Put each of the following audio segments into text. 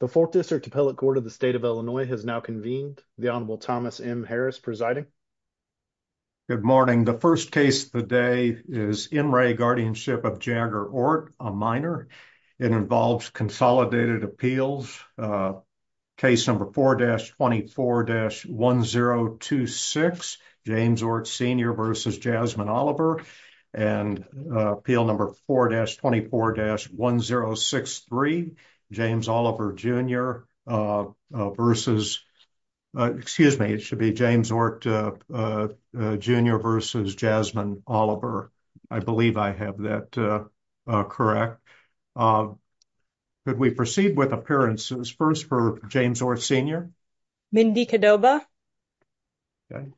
The Fourth District Appellate Court of the State of Illinois has now convened. The Honorable Thomas M. Harris presiding. Good morning. The first case of the day is N. Ray Guardianship of Jagger Ort, a minor. It involves consolidated appeals. Case number 4-24-1026, James Ort Sr. v. Jasmine Oliver. And appeal number 4-24-1063, James Oliver Jr. v. Jasmine Oliver. I believe I have that correct. Could we proceed with appearances? First for James Ort Sr. Mindy Cadoba.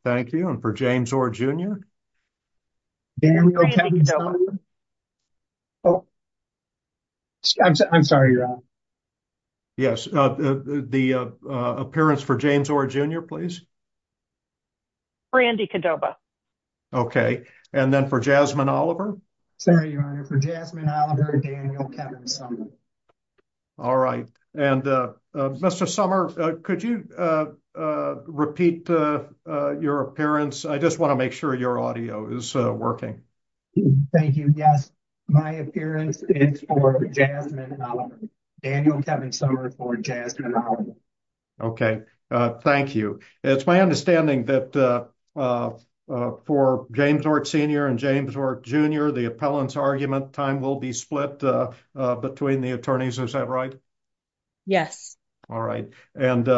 Thank you. And for James Ort Jr.? Daniel Kevin Summer. I'm sorry, Your Honor. Yes. The appearance for James Ort Jr., please. Brandy Cadoba. Okay. And then for Jasmine Oliver? Sorry, Your Honor. For Jasmine Oliver and Daniel Kevin Summer. All right. And Mr. Summer, could you repeat your appearance? I just want to make sure your audio is working. Thank you. Yes. My appearance is for Jasmine Oliver. Daniel Kevin Summer for Jasmine Oliver. Okay. Thank you. It's my understanding that for James Ort Sr. and James Ort Jr., the appellant's argument time will be split between the attorneys. Is that right? Yes. All right. And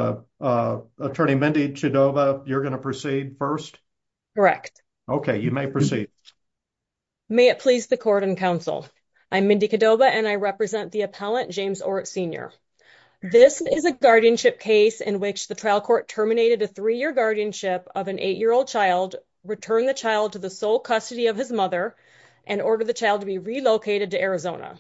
Attorney Mindy Cadoba, you're going to proceed first? Correct. Okay. You may proceed. May it please the court and counsel. I'm Mindy Cadoba, and I represent the appellant, James Ort Sr. This is a guardianship case in which the trial court terminated a three-year guardianship of an eight-year-old child, returned the child to the sole custody of his mother, and ordered the child to be relocated to Arizona.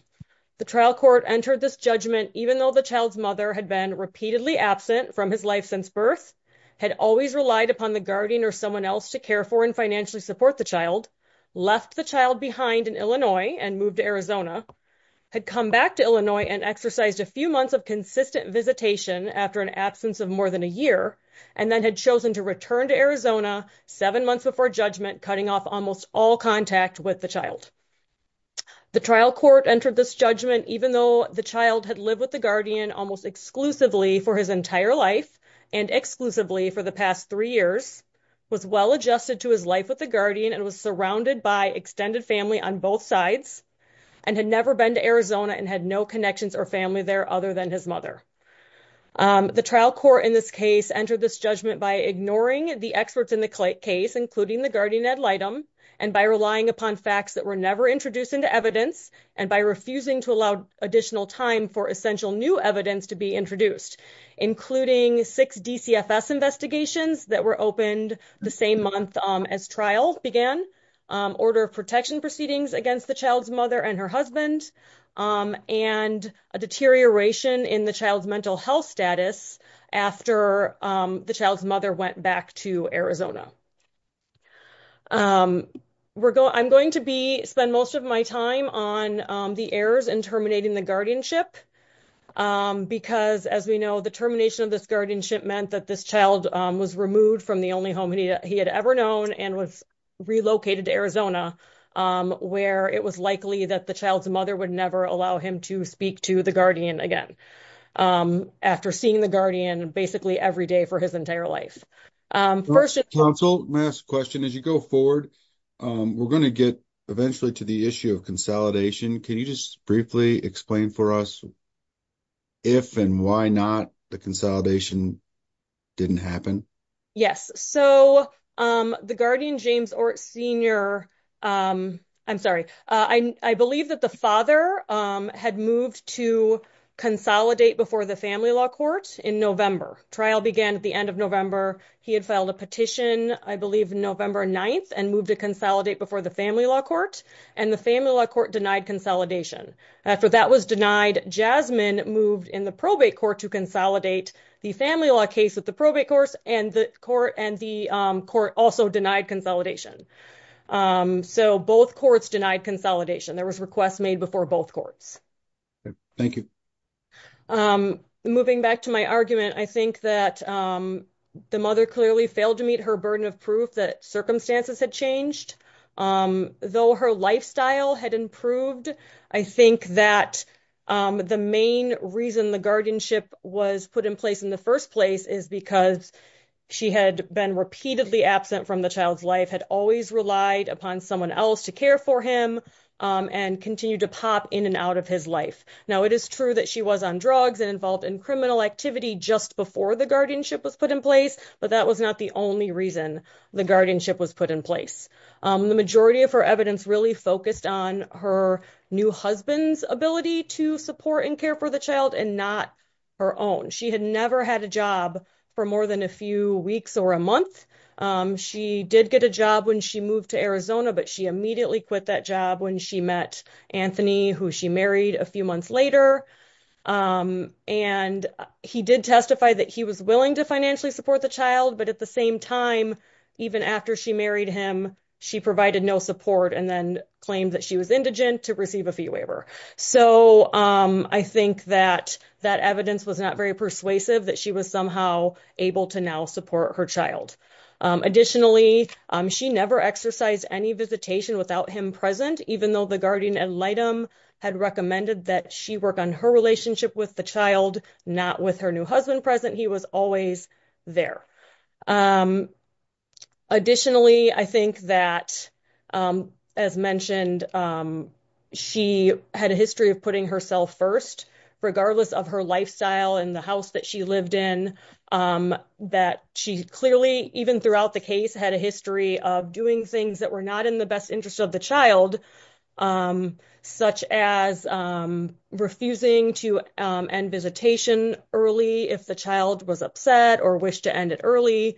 The trial court entered this judgment even though the child's mother had been repeatedly absent from his life since birth, had always relied upon the guardian or someone else to care for and financially support the child, left the child behind in Illinois and moved to Arizona, had come back to Illinois and exercised a few months of consistent visitation after an absence of more than a year, and then had chosen to return to Arizona seven months before judgment, cutting off almost all contact with the child. The trial court entered this judgment even though the child had lived with the guardian almost exclusively for his entire life and exclusively for the past three years, was well-adjusted to his life with the guardian, and was surrounded by extended family on both sides, and had never been to Arizona and had no connections or family there other than his mother. The trial court in this case entered this judgment by ignoring the experts in the case, including the guardian ad litem, and by relying upon facts that were never introduced into evidence, and by refusing to allow additional time for essential new evidence to be introduced, including six DCFS investigations that were opened the same month as trial began, order of protection proceedings against the child's mother and her husband, and a deterioration in the child's mental health status after the child's mother went back to Arizona. I'm going to spend most of my time on the errors in terminating the guardianship, because, as we know, the termination of this guardianship meant that this child was removed from the only home he had ever known and was relocated to Arizona, where it was likely that the child's mother would never allow him to speak to the guardian again, after seeing the guardian basically every day for his entire life. First, counsel, may I ask a question? As you go forward, we're going to get eventually to the issue of consolidation. Can you just briefly explain for us if and why not the consolidation didn't happen? Yes, so the guardian, James Ortt Sr. I'm sorry. I believe that the father had moved to consolidate before the family law court in November. Trial began at the end of November. He had filed a petition, I believe November 9th, and moved to consolidate before the family law court, and the family law court denied consolidation. After that was denied, Jasmine moved in the probate court to consolidate the family law case with the probate courts, and the court also denied consolidation. So both courts denied consolidation. There was a request made before both courts. Thank you. Moving back to my argument, I think that the mother clearly failed to meet her burden of proof that circumstances had changed. Though her lifestyle had improved, I think that the main reason the guardianship was put in place in the first place is because she had been repeatedly absent from the child's life, had always relied upon someone else to care for him, and continued to pop in and out of his life. Now, it is true that she was on drugs and involved in criminal activity just before the guardianship was put in place, but that was not the only reason the guardianship was put in place. The majority of her evidence really focused on her new husband's ability to support and care for the child and not her own. She had never had a job for more than a few weeks or a month. She did get a job when she moved to Arizona, but she immediately quit that job when she met Anthony, who she married a few months later, and he did testify that he was willing to financially support the child, but at the same time, even after she married him, she provided no support and then claimed that she was indigent to receive a fee waiver. So, I think that that evidence was not very persuasive that she was somehow able to now support her child. Additionally, she never exercised any visitation without him present, even though the guardian ad litem had recommended that she work on her relationship with the child, not with her new husband present. He was always there. Additionally, I think that, as mentioned, she had a history of putting herself first, regardless of her lifestyle and the house that she lived in, that she clearly, even throughout the case, had a history of doing things that were not in the best interest of the child, such as refusing to end visitation early if the child was upset or wished to end it early,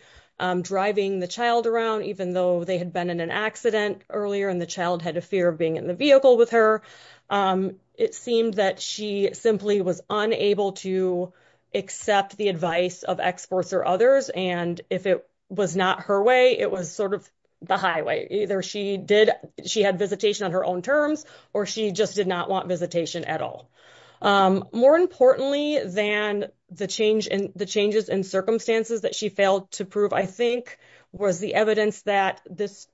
driving the child around even though they had been in an accident earlier and the child had a fear of being in the vehicle with her. It seemed that she simply was unable to accept the advice of experts or others. And if it was not her way, it was sort of the highway. Either she had visitation on her own terms or she just did not want visitation at all. More importantly than the changes in circumstances that she failed to prove, I think was the evidence that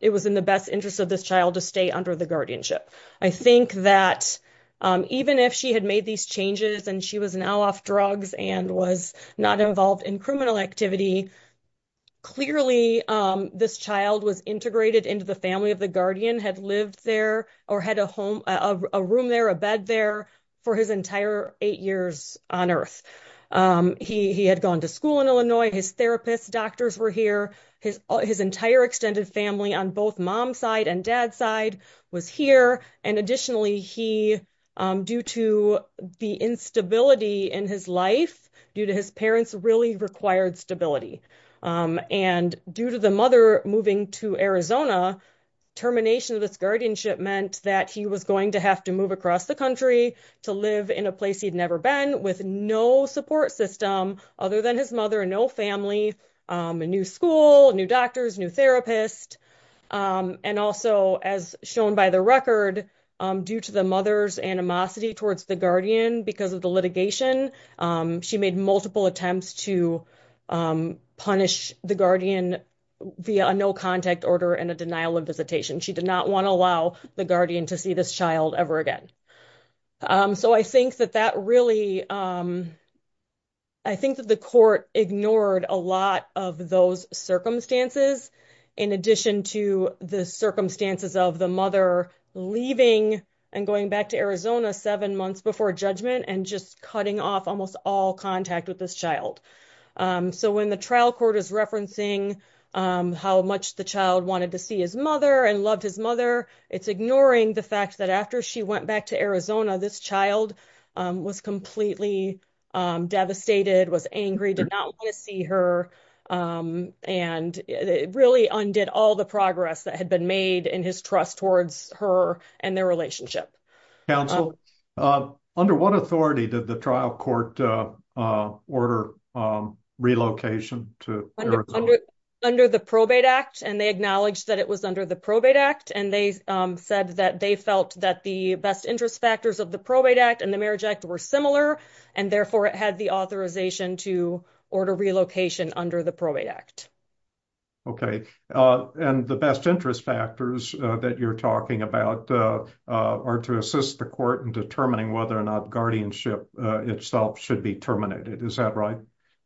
it was in the best interest of this child to stay under the guardianship. I think that even if she had made these changes and she was now off drugs and was not involved in criminal activity, clearly this child was integrated into the family of the guardian, had lived there or had a room there, a bed there, for his entire eight years on earth. He had gone to school in Illinois. His therapist, doctors were here. His entire extended family on both mom's side and dad's side was here. And additionally, he, due to the instability in his life, due to his parents, really required stability. And due to the mother moving to Arizona, termination of this guardianship meant that he was going to have to move across the country to live in a place he'd never been with no support system other than his mother and no family, a new school, new doctors, new therapist. And also, as shown by the record, due to the mother's animosity towards the guardian because of the litigation, she made multiple attempts to punish the guardian via a no contact order and a denial of visitation. She did not want to allow the guardian to see this child ever again. So I think that that really, I think that the court ignored a lot of those circumstances, in addition to the circumstances of the mother leaving and going back to Arizona seven months before judgment and just cutting off almost all contact with this child. So when the trial court is referencing how much the child wanted to see his mother and loved his mother, it's ignoring the fact that after she went back to Arizona, this child was completely devastated, was angry, did not want to see her. And it really undid all the progress that had been made in his trust towards her and their relationship. Counsel, under what authority did the trial court order relocation to Arizona? Under the Probate Act, and they acknowledged that it was under the Probate Act, and they said that they felt that the best interest factors of the Probate Act and the Marriage Act were similar, and therefore it had the authorization to order relocation under the Probate Act. Okay. And the best interest factors that you're talking about are to assist the court in determining whether or not guardianship itself should be terminated. Is that right?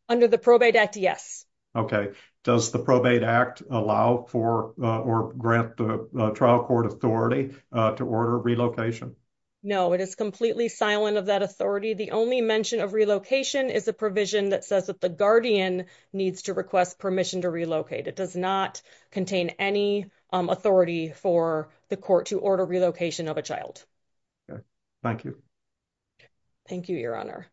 Under the Probate Act, yes. Okay. Does the Probate Act allow for or grant the trial court authority to order relocation? No, it is completely silent of that authority. The only mention of relocation is a provision that says that the guardian needs to request permission to relocate. It does not contain any authority for the court to order relocation of a child. Okay. Thank you. Thank you, Your Honor.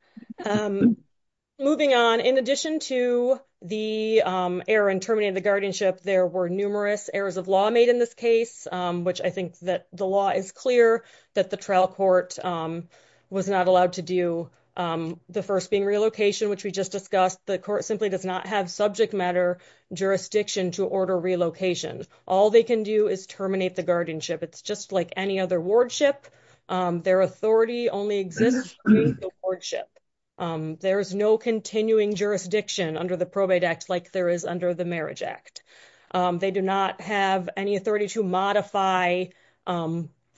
Moving on, in addition to the error in terminating the guardianship, there were numerous errors of law made in this case, which I think that the law is clear that the trial court was not allowed to do, the first being relocation, which we just discussed. The court simply does not have subject matter jurisdiction to order relocation. All they can do is terminate the guardianship. It's just like any other wardship. Their authority only exists through the wardship. There is no continuing jurisdiction under the Probate Act like there is under the Marriage Act. They do not have any authority to modify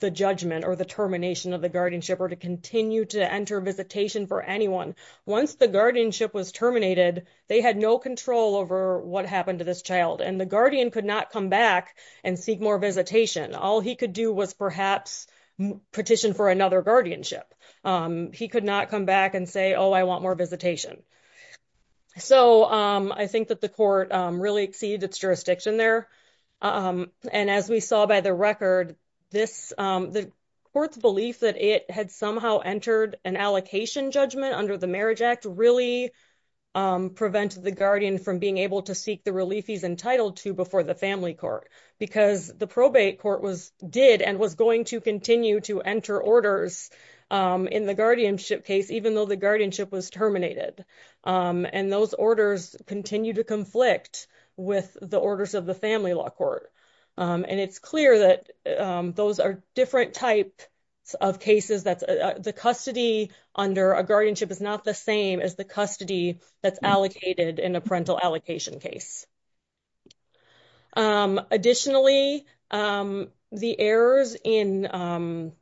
the judgment or the termination of the guardianship or to continue to enter visitation for anyone. Once the guardianship was terminated, they had no control over what happened to this child, and the guardian could not come back and seek more visitation. All he could do was perhaps petition for another guardianship. He could not come back and say, oh, I want more visitation. So I think that the court really exceeded its jurisdiction there, and as we saw by the record, the court's belief that it had somehow entered an allocation judgment under the Marriage Act really prevented the guardian from being able to seek the relief he's entitled to before the family court because the probate court did and was going to continue to enter orders in the guardianship case, even though the guardianship was terminated. And those orders continue to conflict with the orders of the family law court. And it's clear that those are different types of cases. The custody under a guardianship is not the same as the custody that's allocated in a parental allocation case. Additionally, the errors in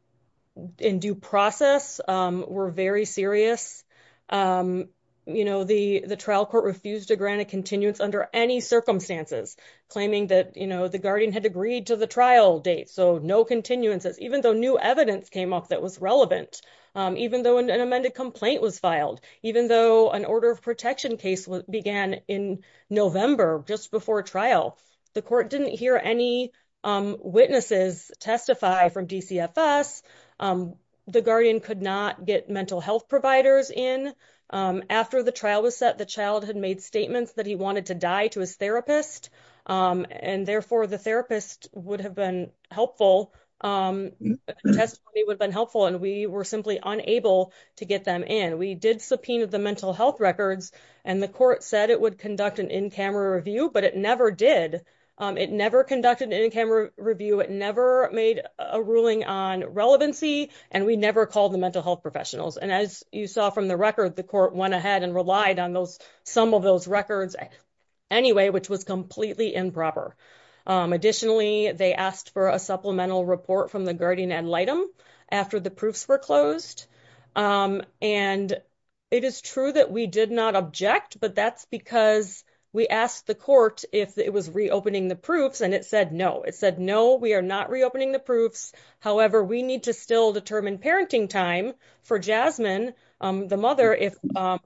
due process were very serious. The trial court refused to grant a continuance under any circumstances, claiming that the guardian had agreed to the trial date, so no continuances, even though new evidence came up that was relevant, even though an amended complaint was filed, even though an order of protection case began in November, just before trial. The court didn't hear any witnesses testify from DCFS. The guardian could not get mental health providers in. After the trial was set, the child had made statements that he wanted to die to his therapist, and therefore the therapist would have been helpful, testimony would have been helpful, and we were simply unable to get them in. We did subpoena the mental health records, and the court said it would conduct an in-camera review, but it never did. It never conducted an in-camera review. It never made a ruling on relevancy, and we never called the mental health professionals. And as you saw from the record, the court went ahead and relied on some of those records anyway, which was completely improper. Additionally, they asked for a supplemental report from the guardian ad litem after the proofs were closed. And it is true that we did not object, but that's because we asked the court if it was reopening the proofs, and it said no. It said, no, we are not reopening the proofs. However, we need to still determine parenting time for Jasmine, the mother, if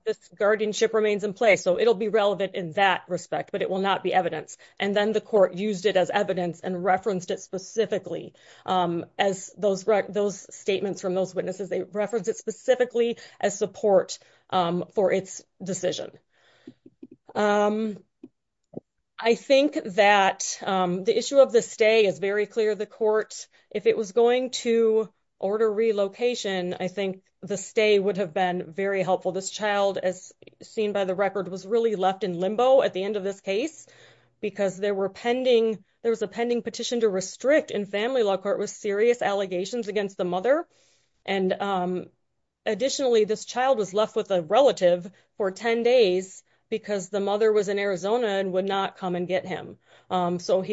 this guardianship remains in place. So it'll be relevant in that respect, but it will not be evidence. And then the court used it as evidence and referenced it specifically. As those statements from those witnesses, they referenced it specifically as support for its decision. I think that the issue of the stay is very clear. The court, if it was going to order relocation, I think the stay would have been very helpful. This child, as seen by the record, was really left in limbo at the end of this case, because there was a pending petition to restrict in family law court with serious allegations against the mother. And additionally, this child was left with a relative for 10 days because the mother was in Arizona and would not come and get him. So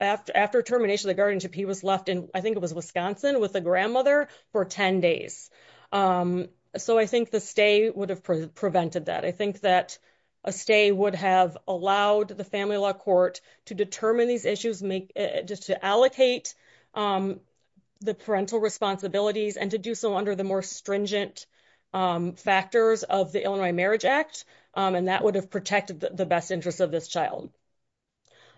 after termination of the guardianship, he was left in, I think it was Wisconsin, with a grandmother for 10 days. So I think the stay would have prevented that. I think that a stay would have allowed the family law court to determine these issues, to allocate the parental responsibilities and to do so under the more stringent factors of the Illinois Marriage Act. And that would have protected the best interests of this child.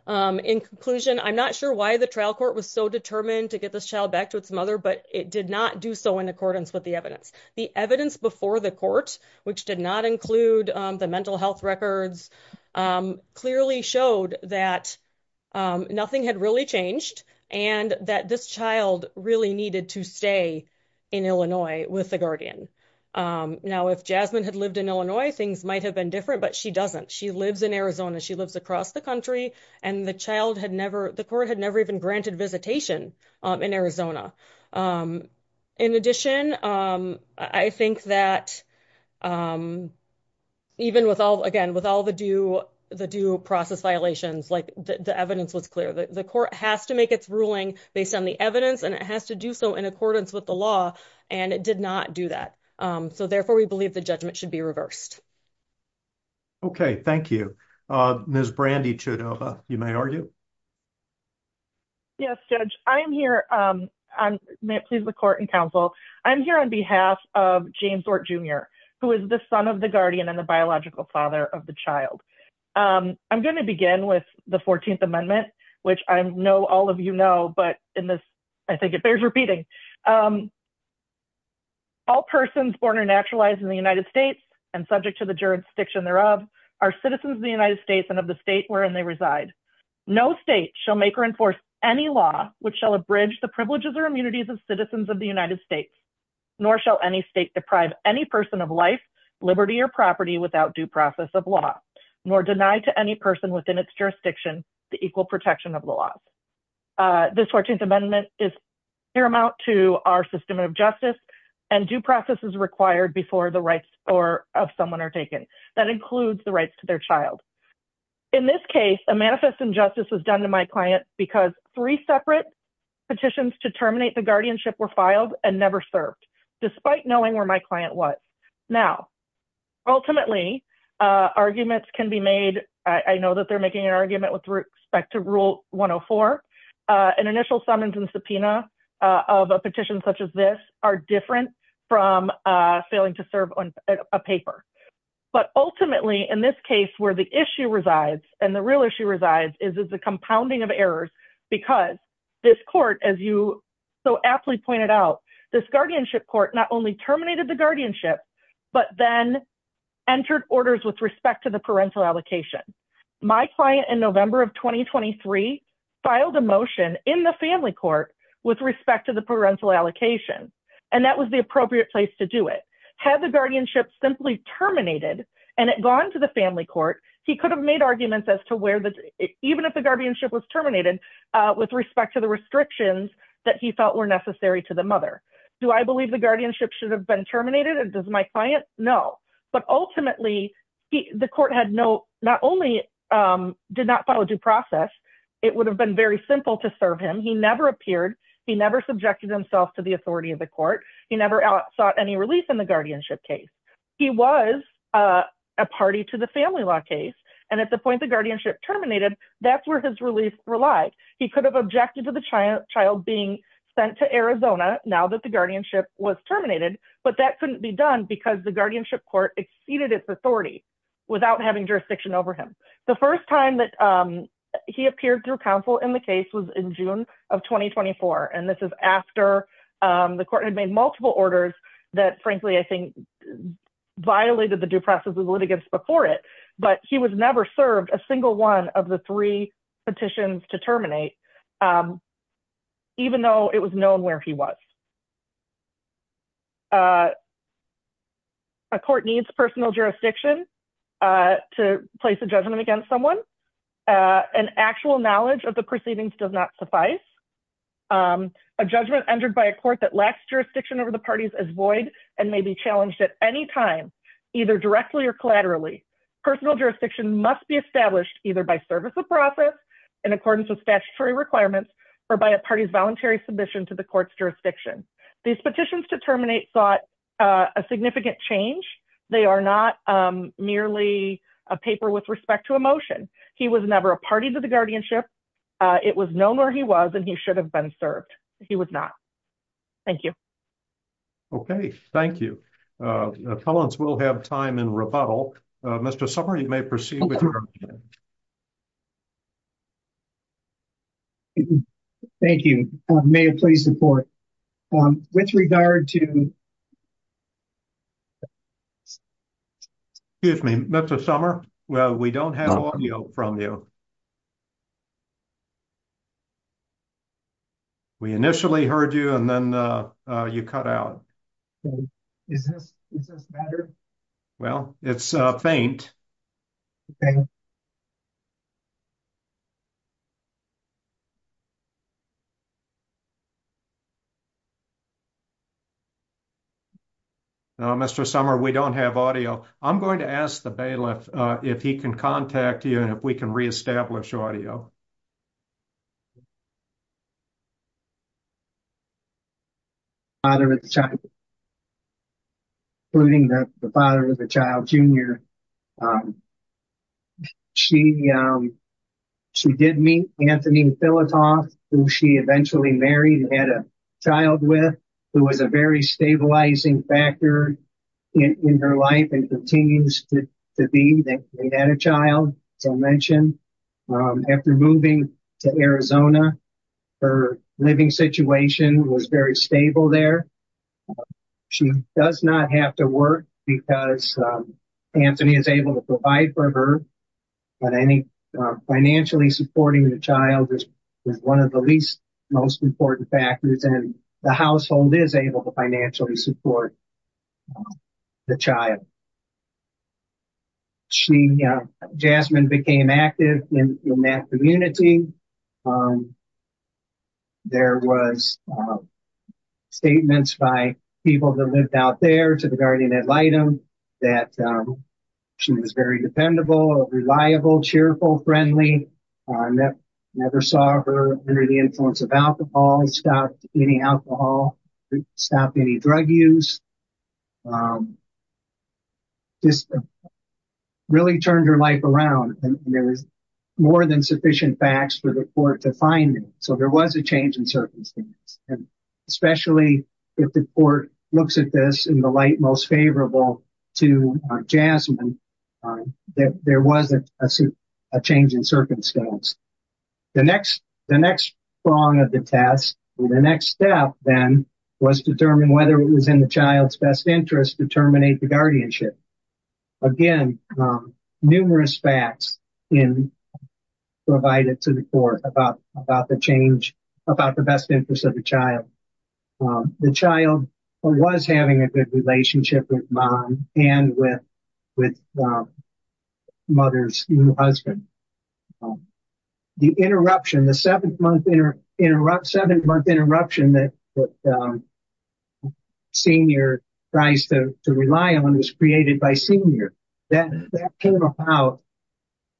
In conclusion, I'm not sure why the trial court was so determined to get this child back to its mother, but it did not do so in accordance with the evidence. The evidence before the court, which did not include the mental health records, clearly showed that nothing had really changed and that this child really needed to stay in Illinois with the guardian. Now, if Jasmine had lived in Illinois, things might have been different, but she doesn't. She lives in Arizona. She lives across the country. And the court had never even granted visitation in Arizona. In addition, I think that even with all, again, with all the due process violations, the evidence was clear. The court has to make its ruling based on the evidence, and it has to do so in accordance with the law, and it did not do that. So therefore, we believe the judgment should be reversed. Okay. Thank you. Ms. Brandy Chudova, you may argue. Yes, Judge. I'm here. May it please the court and counsel. I'm here on behalf of James Ort, Jr., who is the son of the guardian and the biological father of the child. I'm going to begin with the 14th Amendment, which I know all of you know, but in this, I think it bears repeating. All persons born or naturalized in the United States and subject to the jurisdiction thereof are citizens of the United States and of the state wherein they reside. No state shall make or enforce any law which shall abridge the privileges or immunities of citizens of the United States, nor shall any state deprive any person of life, liberty, or property without due process of law, nor deny to any person within its jurisdiction the equal protection of the law. This 14th Amendment is paramount to our system of justice, and due process is required before the rights of someone are taken. That includes the rights to their child. In this case, a manifest injustice was done to my client because three separate petitions to terminate the guardianship were filed and never served, despite knowing where my client was. Now, ultimately, arguments can be made. I know that they're making an argument with respect to Rule 104. An initial summons and subpoena of a petition such as this are different from failing to serve on a paper. But ultimately, in this case where the issue resides, and the real issue resides, is the compounding of errors because this court, as you so aptly pointed out, this guardianship court not only terminated the guardianship, but then entered orders with respect to the parental allocation. My client in November of 2023 filed a motion in the family court with respect to the parental allocation, and that was the appropriate place to do it. Had the guardianship simply terminated and it gone to the family court, he could have made arguments as to where, even if the guardianship was terminated, with respect to the restrictions that he felt were necessary to the mother. Do I believe the guardianship should have been terminated? Does my client? No. But ultimately, the court had no, not only did not follow due process, it would have been very simple to serve him. He never subjected himself to the authority of the court. He never sought any release in the guardianship case. He was a party to the family law case, and at the point the guardianship terminated, that's where his release relied. He could have objected to the child being sent to Arizona now that the guardianship was terminated, but that couldn't be done because the guardianship court exceeded its authority without having jurisdiction over him. The first time that he appeared through counsel in the case was in June of 2024, and this is after the court had made multiple orders that, frankly, I think, violated the due process of the litigants before it, but he was never served a single one of the three petitions to terminate, even though it was known where he was. A court needs personal jurisdiction to place a judgment against someone. An actual knowledge of the proceedings does not suffice. A judgment entered by a court that lacks jurisdiction over the parties is void and may be challenged at any time, either directly or collaterally. Personal jurisdiction must be established either by service of process, in accordance with statutory requirements, or by a party's voluntary submission to the court's jurisdiction. These petitions to terminate sought a significant change. They are not merely a paper with respect to a motion. He was never a party to the guardianship. It was known where he was, and he should have been served. He was not. Thank you. Okay, thank you. Appellants will have time in rebuttal. Mr. Sommer, you may proceed with your argument. Thank you. May I please support? With regard to... Excuse me, Mr. Sommer, we don't have audio from you. We initially heard you, and then you cut out. Is this better? Well, it's faint. Okay. Mr. Sommer, we don't have audio. I'm going to ask the bailiff if he can contact you and if we can reestablish audio. Father of the child, including the father of the child, Jr. She did meet Anthony Philitoff, who she eventually married and had a child with, who was a very stabilizing factor in her life and continues to be. They had a child, as I mentioned. After moving to Arizona, her living situation was very stable there. She does not have to work because Anthony is able to provide for her. But I think financially supporting the child is one of the least most important factors, and the household is able to financially support the child. Jasmine became active in that community. There was statements by people that lived out there to the guardian ad litem that she was very dependable, reliable, cheerful, friendly. I never saw her under the influence of alcohol. Stopped any alcohol, stopped any drug use. Just really turned her life around. There is more than sufficient facts for the court to find. So there was a change in circumstance, especially if the court looks at this in the light most favorable to Jasmine. There was a change in circumstance. The next prong of the test, the next step then, was to determine whether it was in the child's best interest to terminate the guardianship. Again, numerous facts provided to the court about the best interest of the child. The child was having a good relationship with mom and with mother's new husband. The interruption, the seven-month interruption that Senior tries to rely on was created by Senior. That came about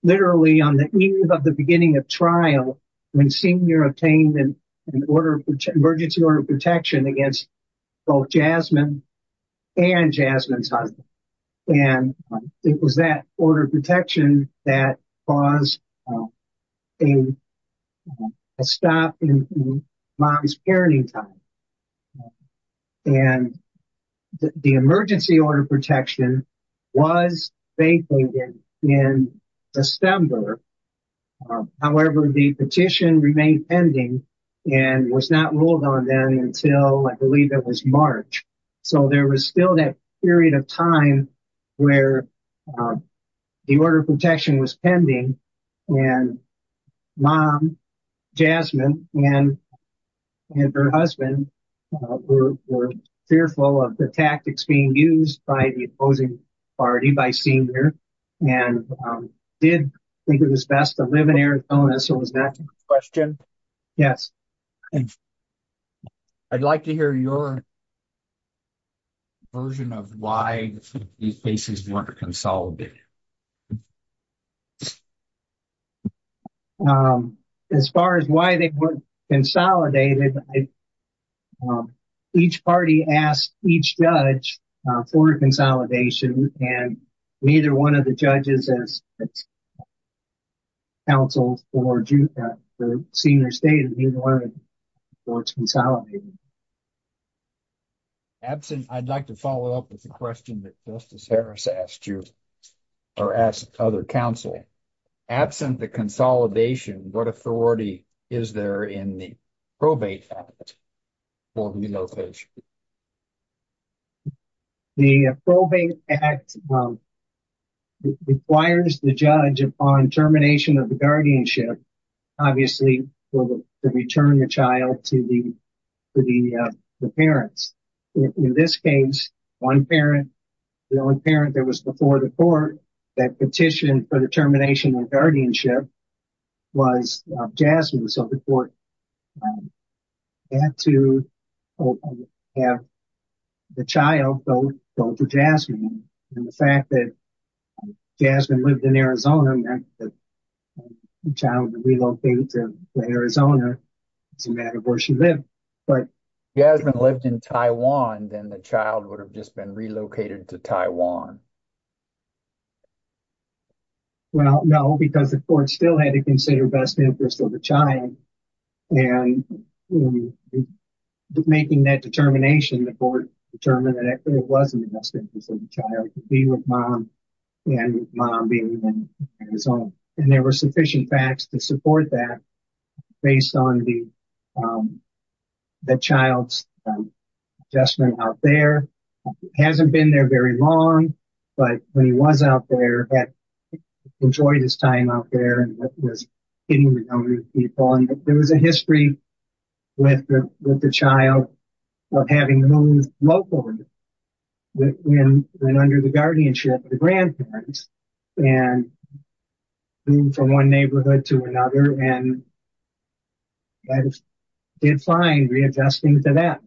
literally on the eve of the beginning of trial when Senior obtained an emergency order of protection against both Jasmine and Jasmine's husband. It was that order of protection that caused a stop in mom's parenting time. The emergency order of protection was vacated in September. However, the petition remained pending and was not ruled on then until I believe it was March. So there was still that period of time where the order of protection was pending. Mom, Jasmine, and her husband were fearful of the tactics being used by the opposing party, by Senior, and did think it was best to live in Arizona. So was that the question? Yes. I'd like to hear your version of why these cases weren't consolidated. As far as why they weren't consolidated, each party asked each judge for a consolidation, and neither one of the judges as counseled for Senior State in either one of the courts consolidated. I'd like to follow up with the question that Justice Harris asked you or asked other counsel. Absent the consolidation, what authority is there in the Probate Act for relocation? The Probate Act requires the judge upon termination of the guardianship, obviously, to return the child to the parents. In this case, the only parent that was before the court that petitioned for the termination of guardianship was Jasmine. So the court had to have the child go to Jasmine. And the fact that Jasmine lived in Arizona meant that the child would be relocated to Arizona, no matter where she lived. If Jasmine lived in Taiwan, then the child would have just been relocated to Taiwan. Well, no, because the court still had to consider best interest of the child. And making that determination, the court determined that it wasn't the best interest of the child to be with mom and mom being in Arizona. And there were sufficient facts to support that based on the child's adjustment out there. He hasn't been there very long, but when he was out there, he enjoyed his time out there and was getting to know new people. And there was a history with the child of having moved locally when under the guardianship of the grandparents. And moving from one neighborhood to another, and the judge did fine readjusting to that.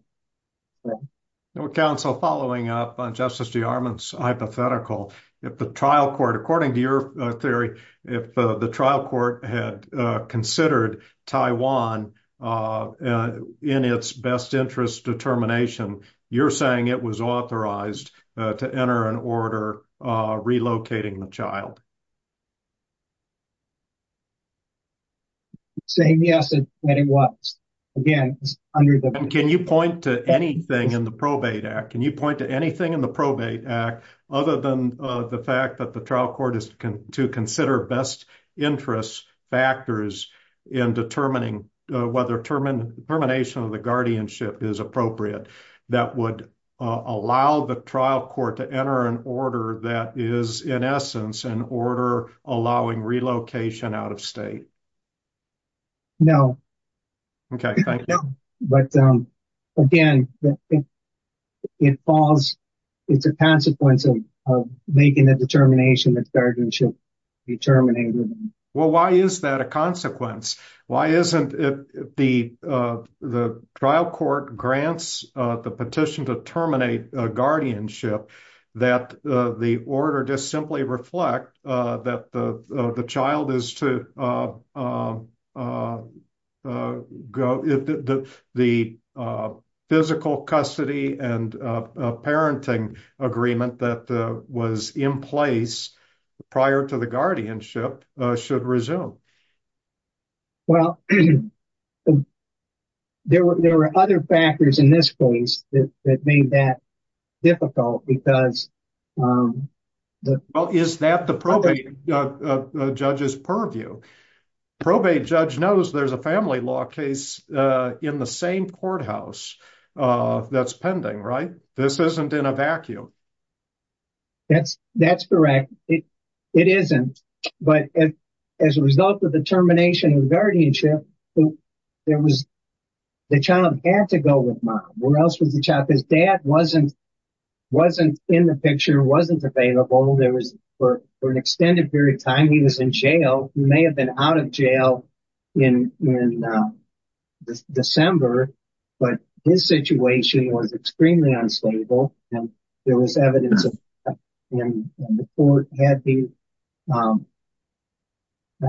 Counsel, following up on Justice DeArmond's hypothetical, if the trial court, according to your theory, if the trial court had considered Taiwan in its best interest determination, you're saying it was authorized to enter an order relocating the child. Saying yes, it was. Can you point to anything in the Probate Act? Can you point to anything in the Probate Act, other than the fact that the trial court is to consider best interest factors in determining whether termination of the guardianship is appropriate, that would allow the trial court to enter an order that is, in essence, an order allowing relocation out of state? No. Okay, thank you. But again, it's a consequence of making a determination that guardianship be terminated. Well, why is that a consequence? Why isn't it the trial court grants the petition to terminate guardianship, that the order just simply reflect that the child is to go, the physical custody and parenting agreement that was in place prior to the guardianship should resume? Well, there were other factors in this case that made that difficult because... Well, is that the probate judge's purview? Probate judge knows there's a family law case in the same courthouse that's pending, right? This isn't in a vacuum. That's correct. It isn't. But as a result of the termination of guardianship, the child had to go with mom. Where else was the child? His dad wasn't in the picture, wasn't available. For an extended period of time, he was in jail. He may have been out of jail in December, but his situation was extremely unstable. And there was evidence of that. And the court had not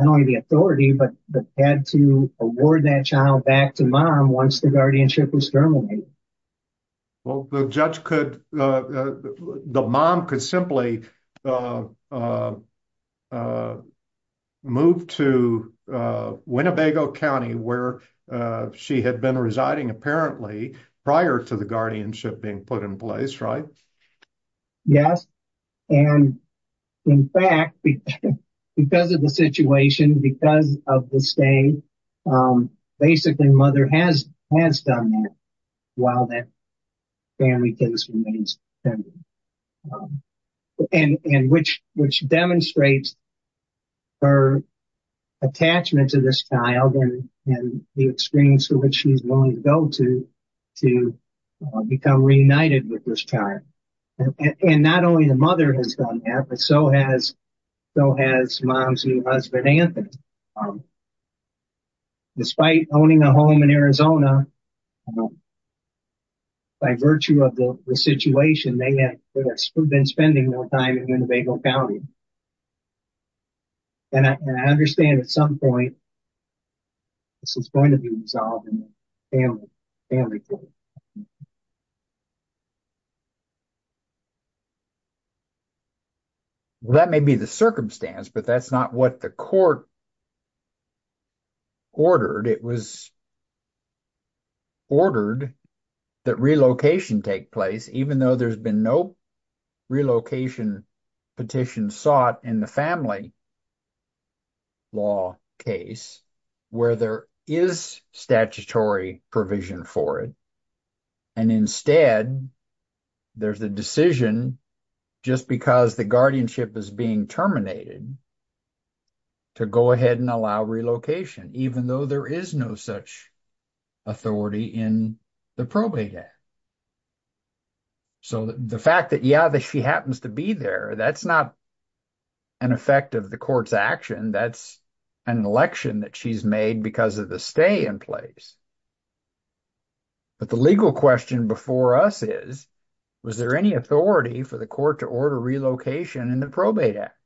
only the authority, but had to award that child back to mom once the guardianship was terminated. Well, the judge could... The mom could simply move to Winnebago County where she had been residing apparently prior to the guardianship being put in place, right? Yes. And in fact, because of the situation, because of the state, basically mother has done that. While that family case remains pending. And which demonstrates her attachment to this child and the extremes to which she's willing to go to, to become reunited with this child. And not only the mother has done that, but so has mom's new husband, Anthony. Despite owning a home in Arizona, by virtue of the situation, they had been spending more time in Winnebago County. And I understand at some point, this is going to be resolved in the family court. Well, that may be the circumstance, but that's not what the court ordered. It was ordered that relocation take place, even though there's been no relocation petition sought in the family law case, where there is statutory provision for it. And instead, there's the decision, just because the guardianship is being terminated, to go ahead and allow relocation, even though there is no such authority in the probate act. So the fact that, yeah, that she happens to be there, that's not an effect of the court's action. That's an election that she's made because of the stay in place. But the legal question before us is, was there any authority for the court to order relocation in the probate act?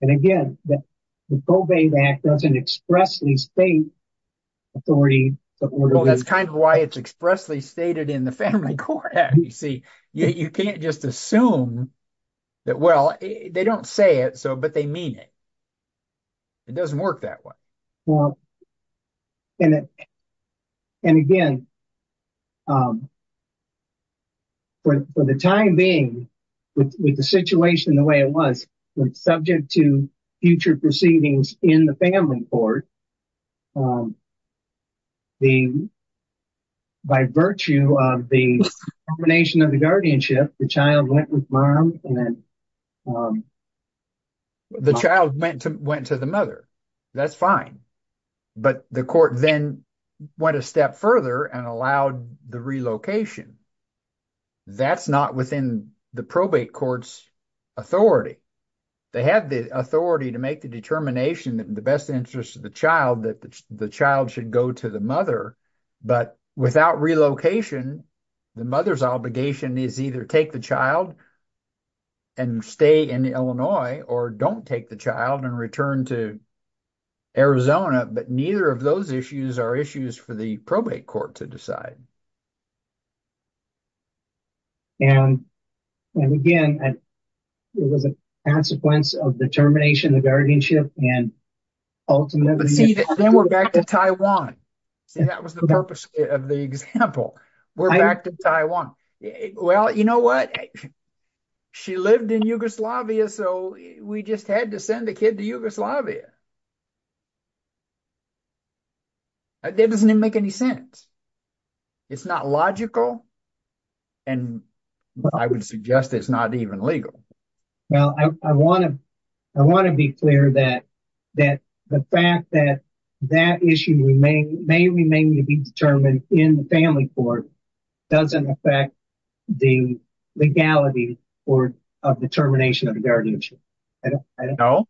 And again, the probate act doesn't expressly state authority. Well, that's kind of why it's expressly stated in the family court. You see, you can't just assume that, well, they don't say it, but they mean it. It doesn't work that way. And again, for the time being, with the situation the way it was, subject to future proceedings in the family court, by virtue of the termination of the guardianship, the child went with mom. The child went to the mother. That's fine. But the court then went a step further and allowed the relocation. That's not within the probate court's authority. They have the authority to make the determination in the best interest of the child that the child should go to the mother. But without relocation, the mother's obligation is either take the child and stay in Illinois or don't take the child and return to Arizona. But neither of those issues are issues for the probate court to decide. And again, it was a consequence of the termination of guardianship and ultimately… But see, then we're back to Taiwan. See, that was the purpose of the example. We're back to Taiwan. Well, you know what? She lived in Yugoslavia, so we just had to send the kid to Yugoslavia. That doesn't even make any sense. It's not logical, and I would suggest it's not even legal. Well, I want to be clear that the fact that that issue may remain to be determined in the family court doesn't affect the legality of the termination of guardianship. No.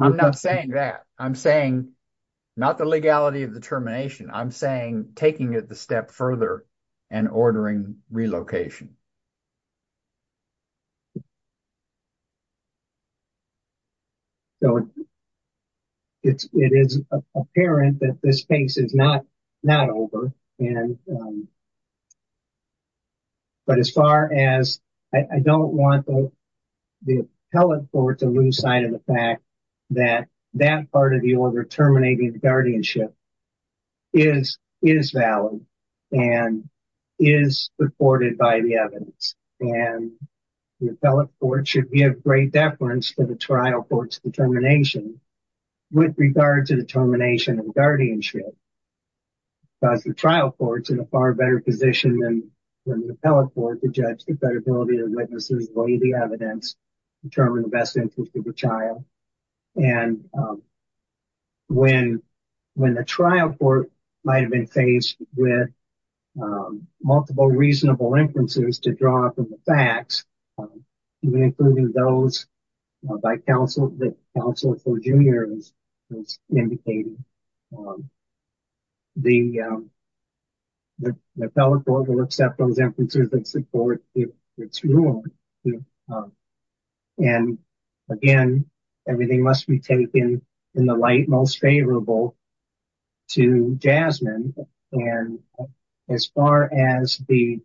I'm not saying that. I'm saying not the legality of the termination. I'm saying taking it a step further and ordering relocation. It is apparent that this case is not over. But as far as… I don't want the appellate court to lose sight of the fact that that part of the order terminating guardianship is valid and is supported by the evidence. And the appellate court should give great deference to the trial court's determination with regard to the termination of guardianship. Because the trial court's in a far better position than the appellate court to judge the credibility of witnesses, weigh the evidence, determine the best interest of the child. And when the trial court might have been faced with multiple reasonable inferences to draw from the facts, including those by counsel, the counsel for junior is indicating. The appellate court will accept those inferences that support its rule. And again, everything must be taken in the light most favorable to Jasmine. And as far as the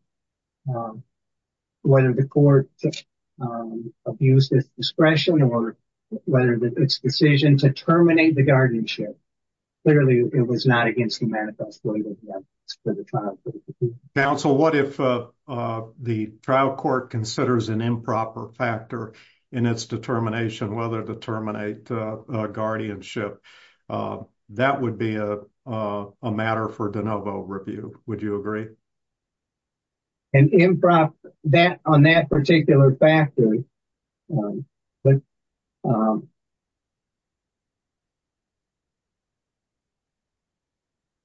whether the court abused its discretion or whether its decision to terminate the guardianship. Clearly, it was not against the manifesto. Now, so what if the trial court considers an improper factor in its determination, whether to terminate guardianship, that would be a matter for de novo review. Would you agree? And improv that on that particular factor. But.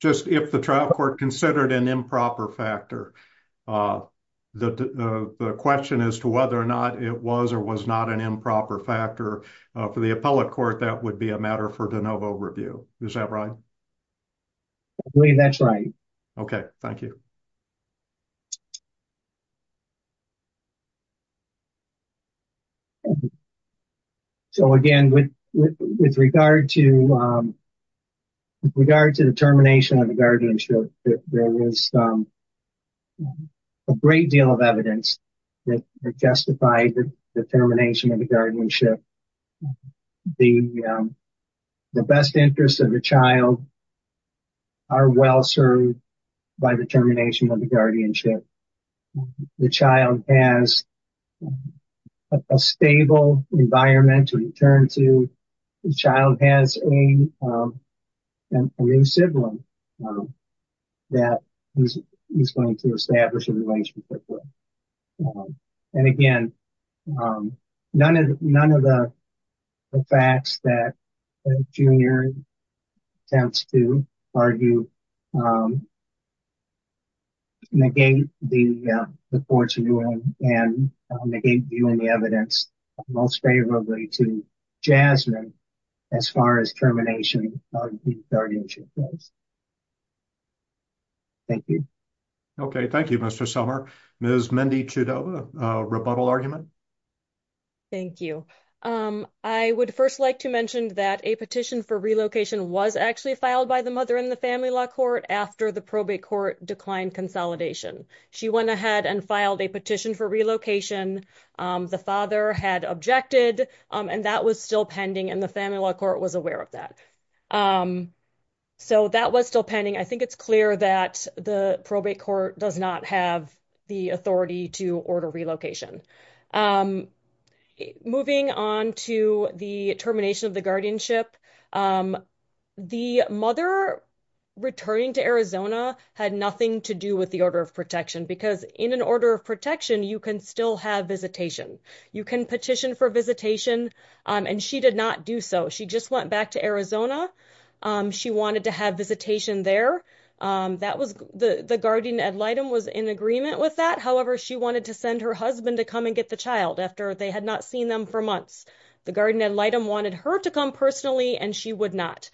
Just if the trial court considered an improper factor, the question as to whether or not it was or was not an improper factor for the appellate court, that would be a matter for de novo review. Is that right? I believe that's right. OK, thank you. So, again, with regard to. With regard to the termination of the guardianship, there is. A great deal of evidence that justified the termination of the guardianship. The best interests of the child. Are well served by the termination of the guardianship. The child has a stable environment to return to. The child has a new sibling that is going to establish a relationship. And again, none of the none of the facts that junior. Sounds to argue. And again, the courts and the evidence most favorably to Jasmine as far as termination. Thank you. Okay, thank you. Mr. Summer is Mindy to the rebuttal argument. Thank you. I would 1st, like to mention that a petition for relocation was actually filed by the mother in the family law court after the probate court declined consolidation. She went ahead and filed a petition for relocation. The father had objected and that was still pending and the family law court was aware of that. So, that was still pending. I think it's clear that the probate court does not have the authority to order relocation. Moving on to the termination of the guardianship. The mother. Returning to Arizona had nothing to do with the order of protection, because in an order of protection, you can still have visitation. You can petition for visitation. And she did not do. So she just went back to Arizona. She wanted to have visitation there. That was the guardian and light and was in agreement with that. However, she wanted to send her husband to come and get the child after they had not seen them for months. The guardian wanted her to come personally, and she would not.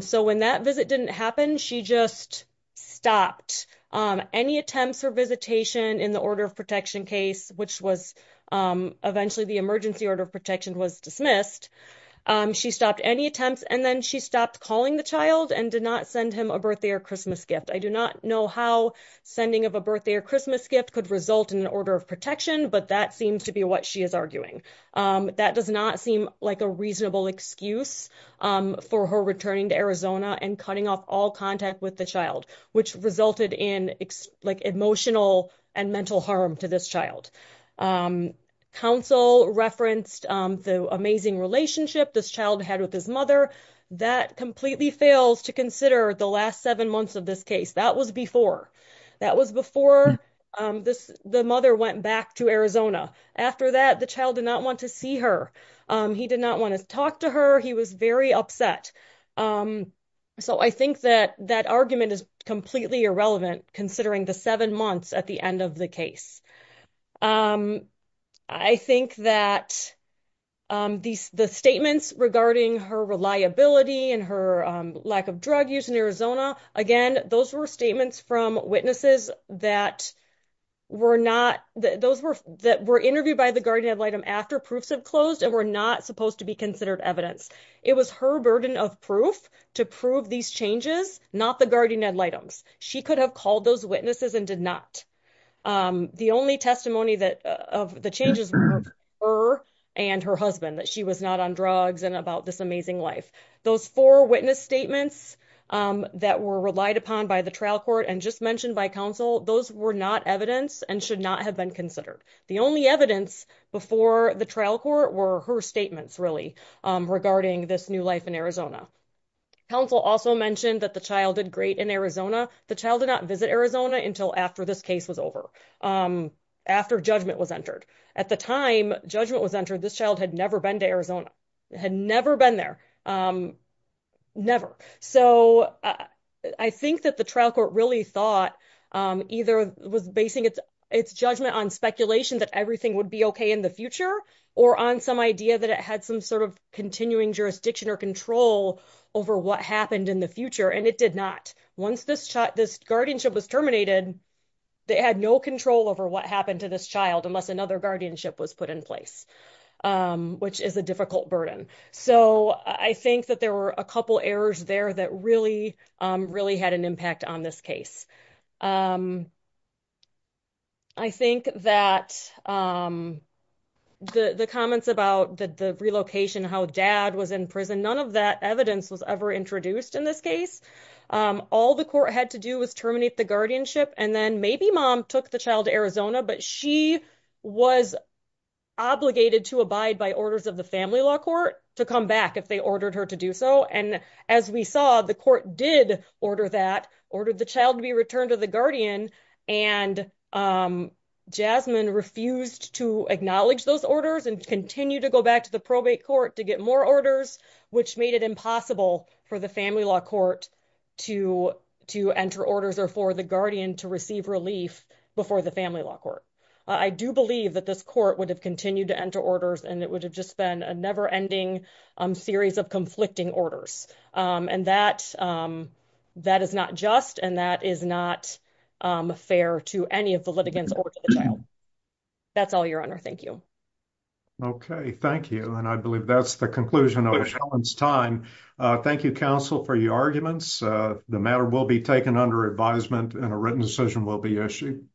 So, when that visit didn't happen, she just stopped any attempts or visitation in the order of protection case, which was eventually the emergency order of protection was dismissed. She stopped any attempts and then she stopped calling the child and did not send him a birthday or Christmas gift. I do not know how sending of a birthday or Christmas gift could result in an order of protection, but that seems to be what she is arguing. That does not seem like a reasonable excuse for her returning to Arizona and cutting off all contact with the child, which resulted in emotional and mental harm to this child. Counsel referenced the amazing relationship this child had with his mother that completely fails to consider the last 7 months of this case. That was before. The mother went back to Arizona. After that, the child did not want to see her. He did not want to talk to her. He was very upset. So, I think that that argument is completely irrelevant considering the 7 months at the end of the case. I think that the statements regarding her reliability and her lack of drug use in Arizona, again, those were statements from witnesses that were interviewed by the guardian ad litem after proofs have closed and were not supposed to be considered evidence. It was her burden of proof to prove these changes, not the guardian ad litems. She could have called those witnesses and did not. The only testimony of the changes were her and her husband, that she was not on drugs and about this amazing life. Those 4 witness statements that were relied upon by the trial court and just mentioned by counsel, those were not evidence and should not have been considered. The only evidence before the trial court were her statements, really, regarding this new life in Arizona. Counsel also mentioned that the child did great in Arizona. The child did not visit Arizona until after this case was over. After judgment was entered. At the time judgment was entered, this child had never been to Arizona. Had never been there. Never. So, I think that the trial court really thought either was basing its judgment on speculation that everything would be okay in the future or on some idea that it had some sort of continuing jurisdiction or control over what happened in the future. And it did not. Once this guardianship was terminated, they had no control over what happened to this child unless another guardianship was put in place, which is a difficult burden. So, I think that there were a couple errors there that really, really had an impact on this case. I think that the comments about the relocation, how dad was in prison, none of that evidence was ever introduced in this case. All the court had to do was terminate the guardianship and then maybe mom took the child to Arizona, but she was obligated to abide by orders of the family law court to come back if they ordered her to do so. And as we saw, the court did order that ordered the child to be returned to the guardian and Jasmine refused to acknowledge those orders and continue to go back to the probate court to get more orders, which made it impossible for the family law court. To to enter orders are for the guardian to receive relief before the family law court. I do believe that this court would have continued to enter orders and it would have just been a never ending series of conflicting orders. And that that is not just and that is not fair to any of the litigants. That's all your honor. Thank you. Okay, thank you. And I believe that's the conclusion of time. Thank you counsel for your arguments. The matter will be taken under advisement and a written decision will be issued.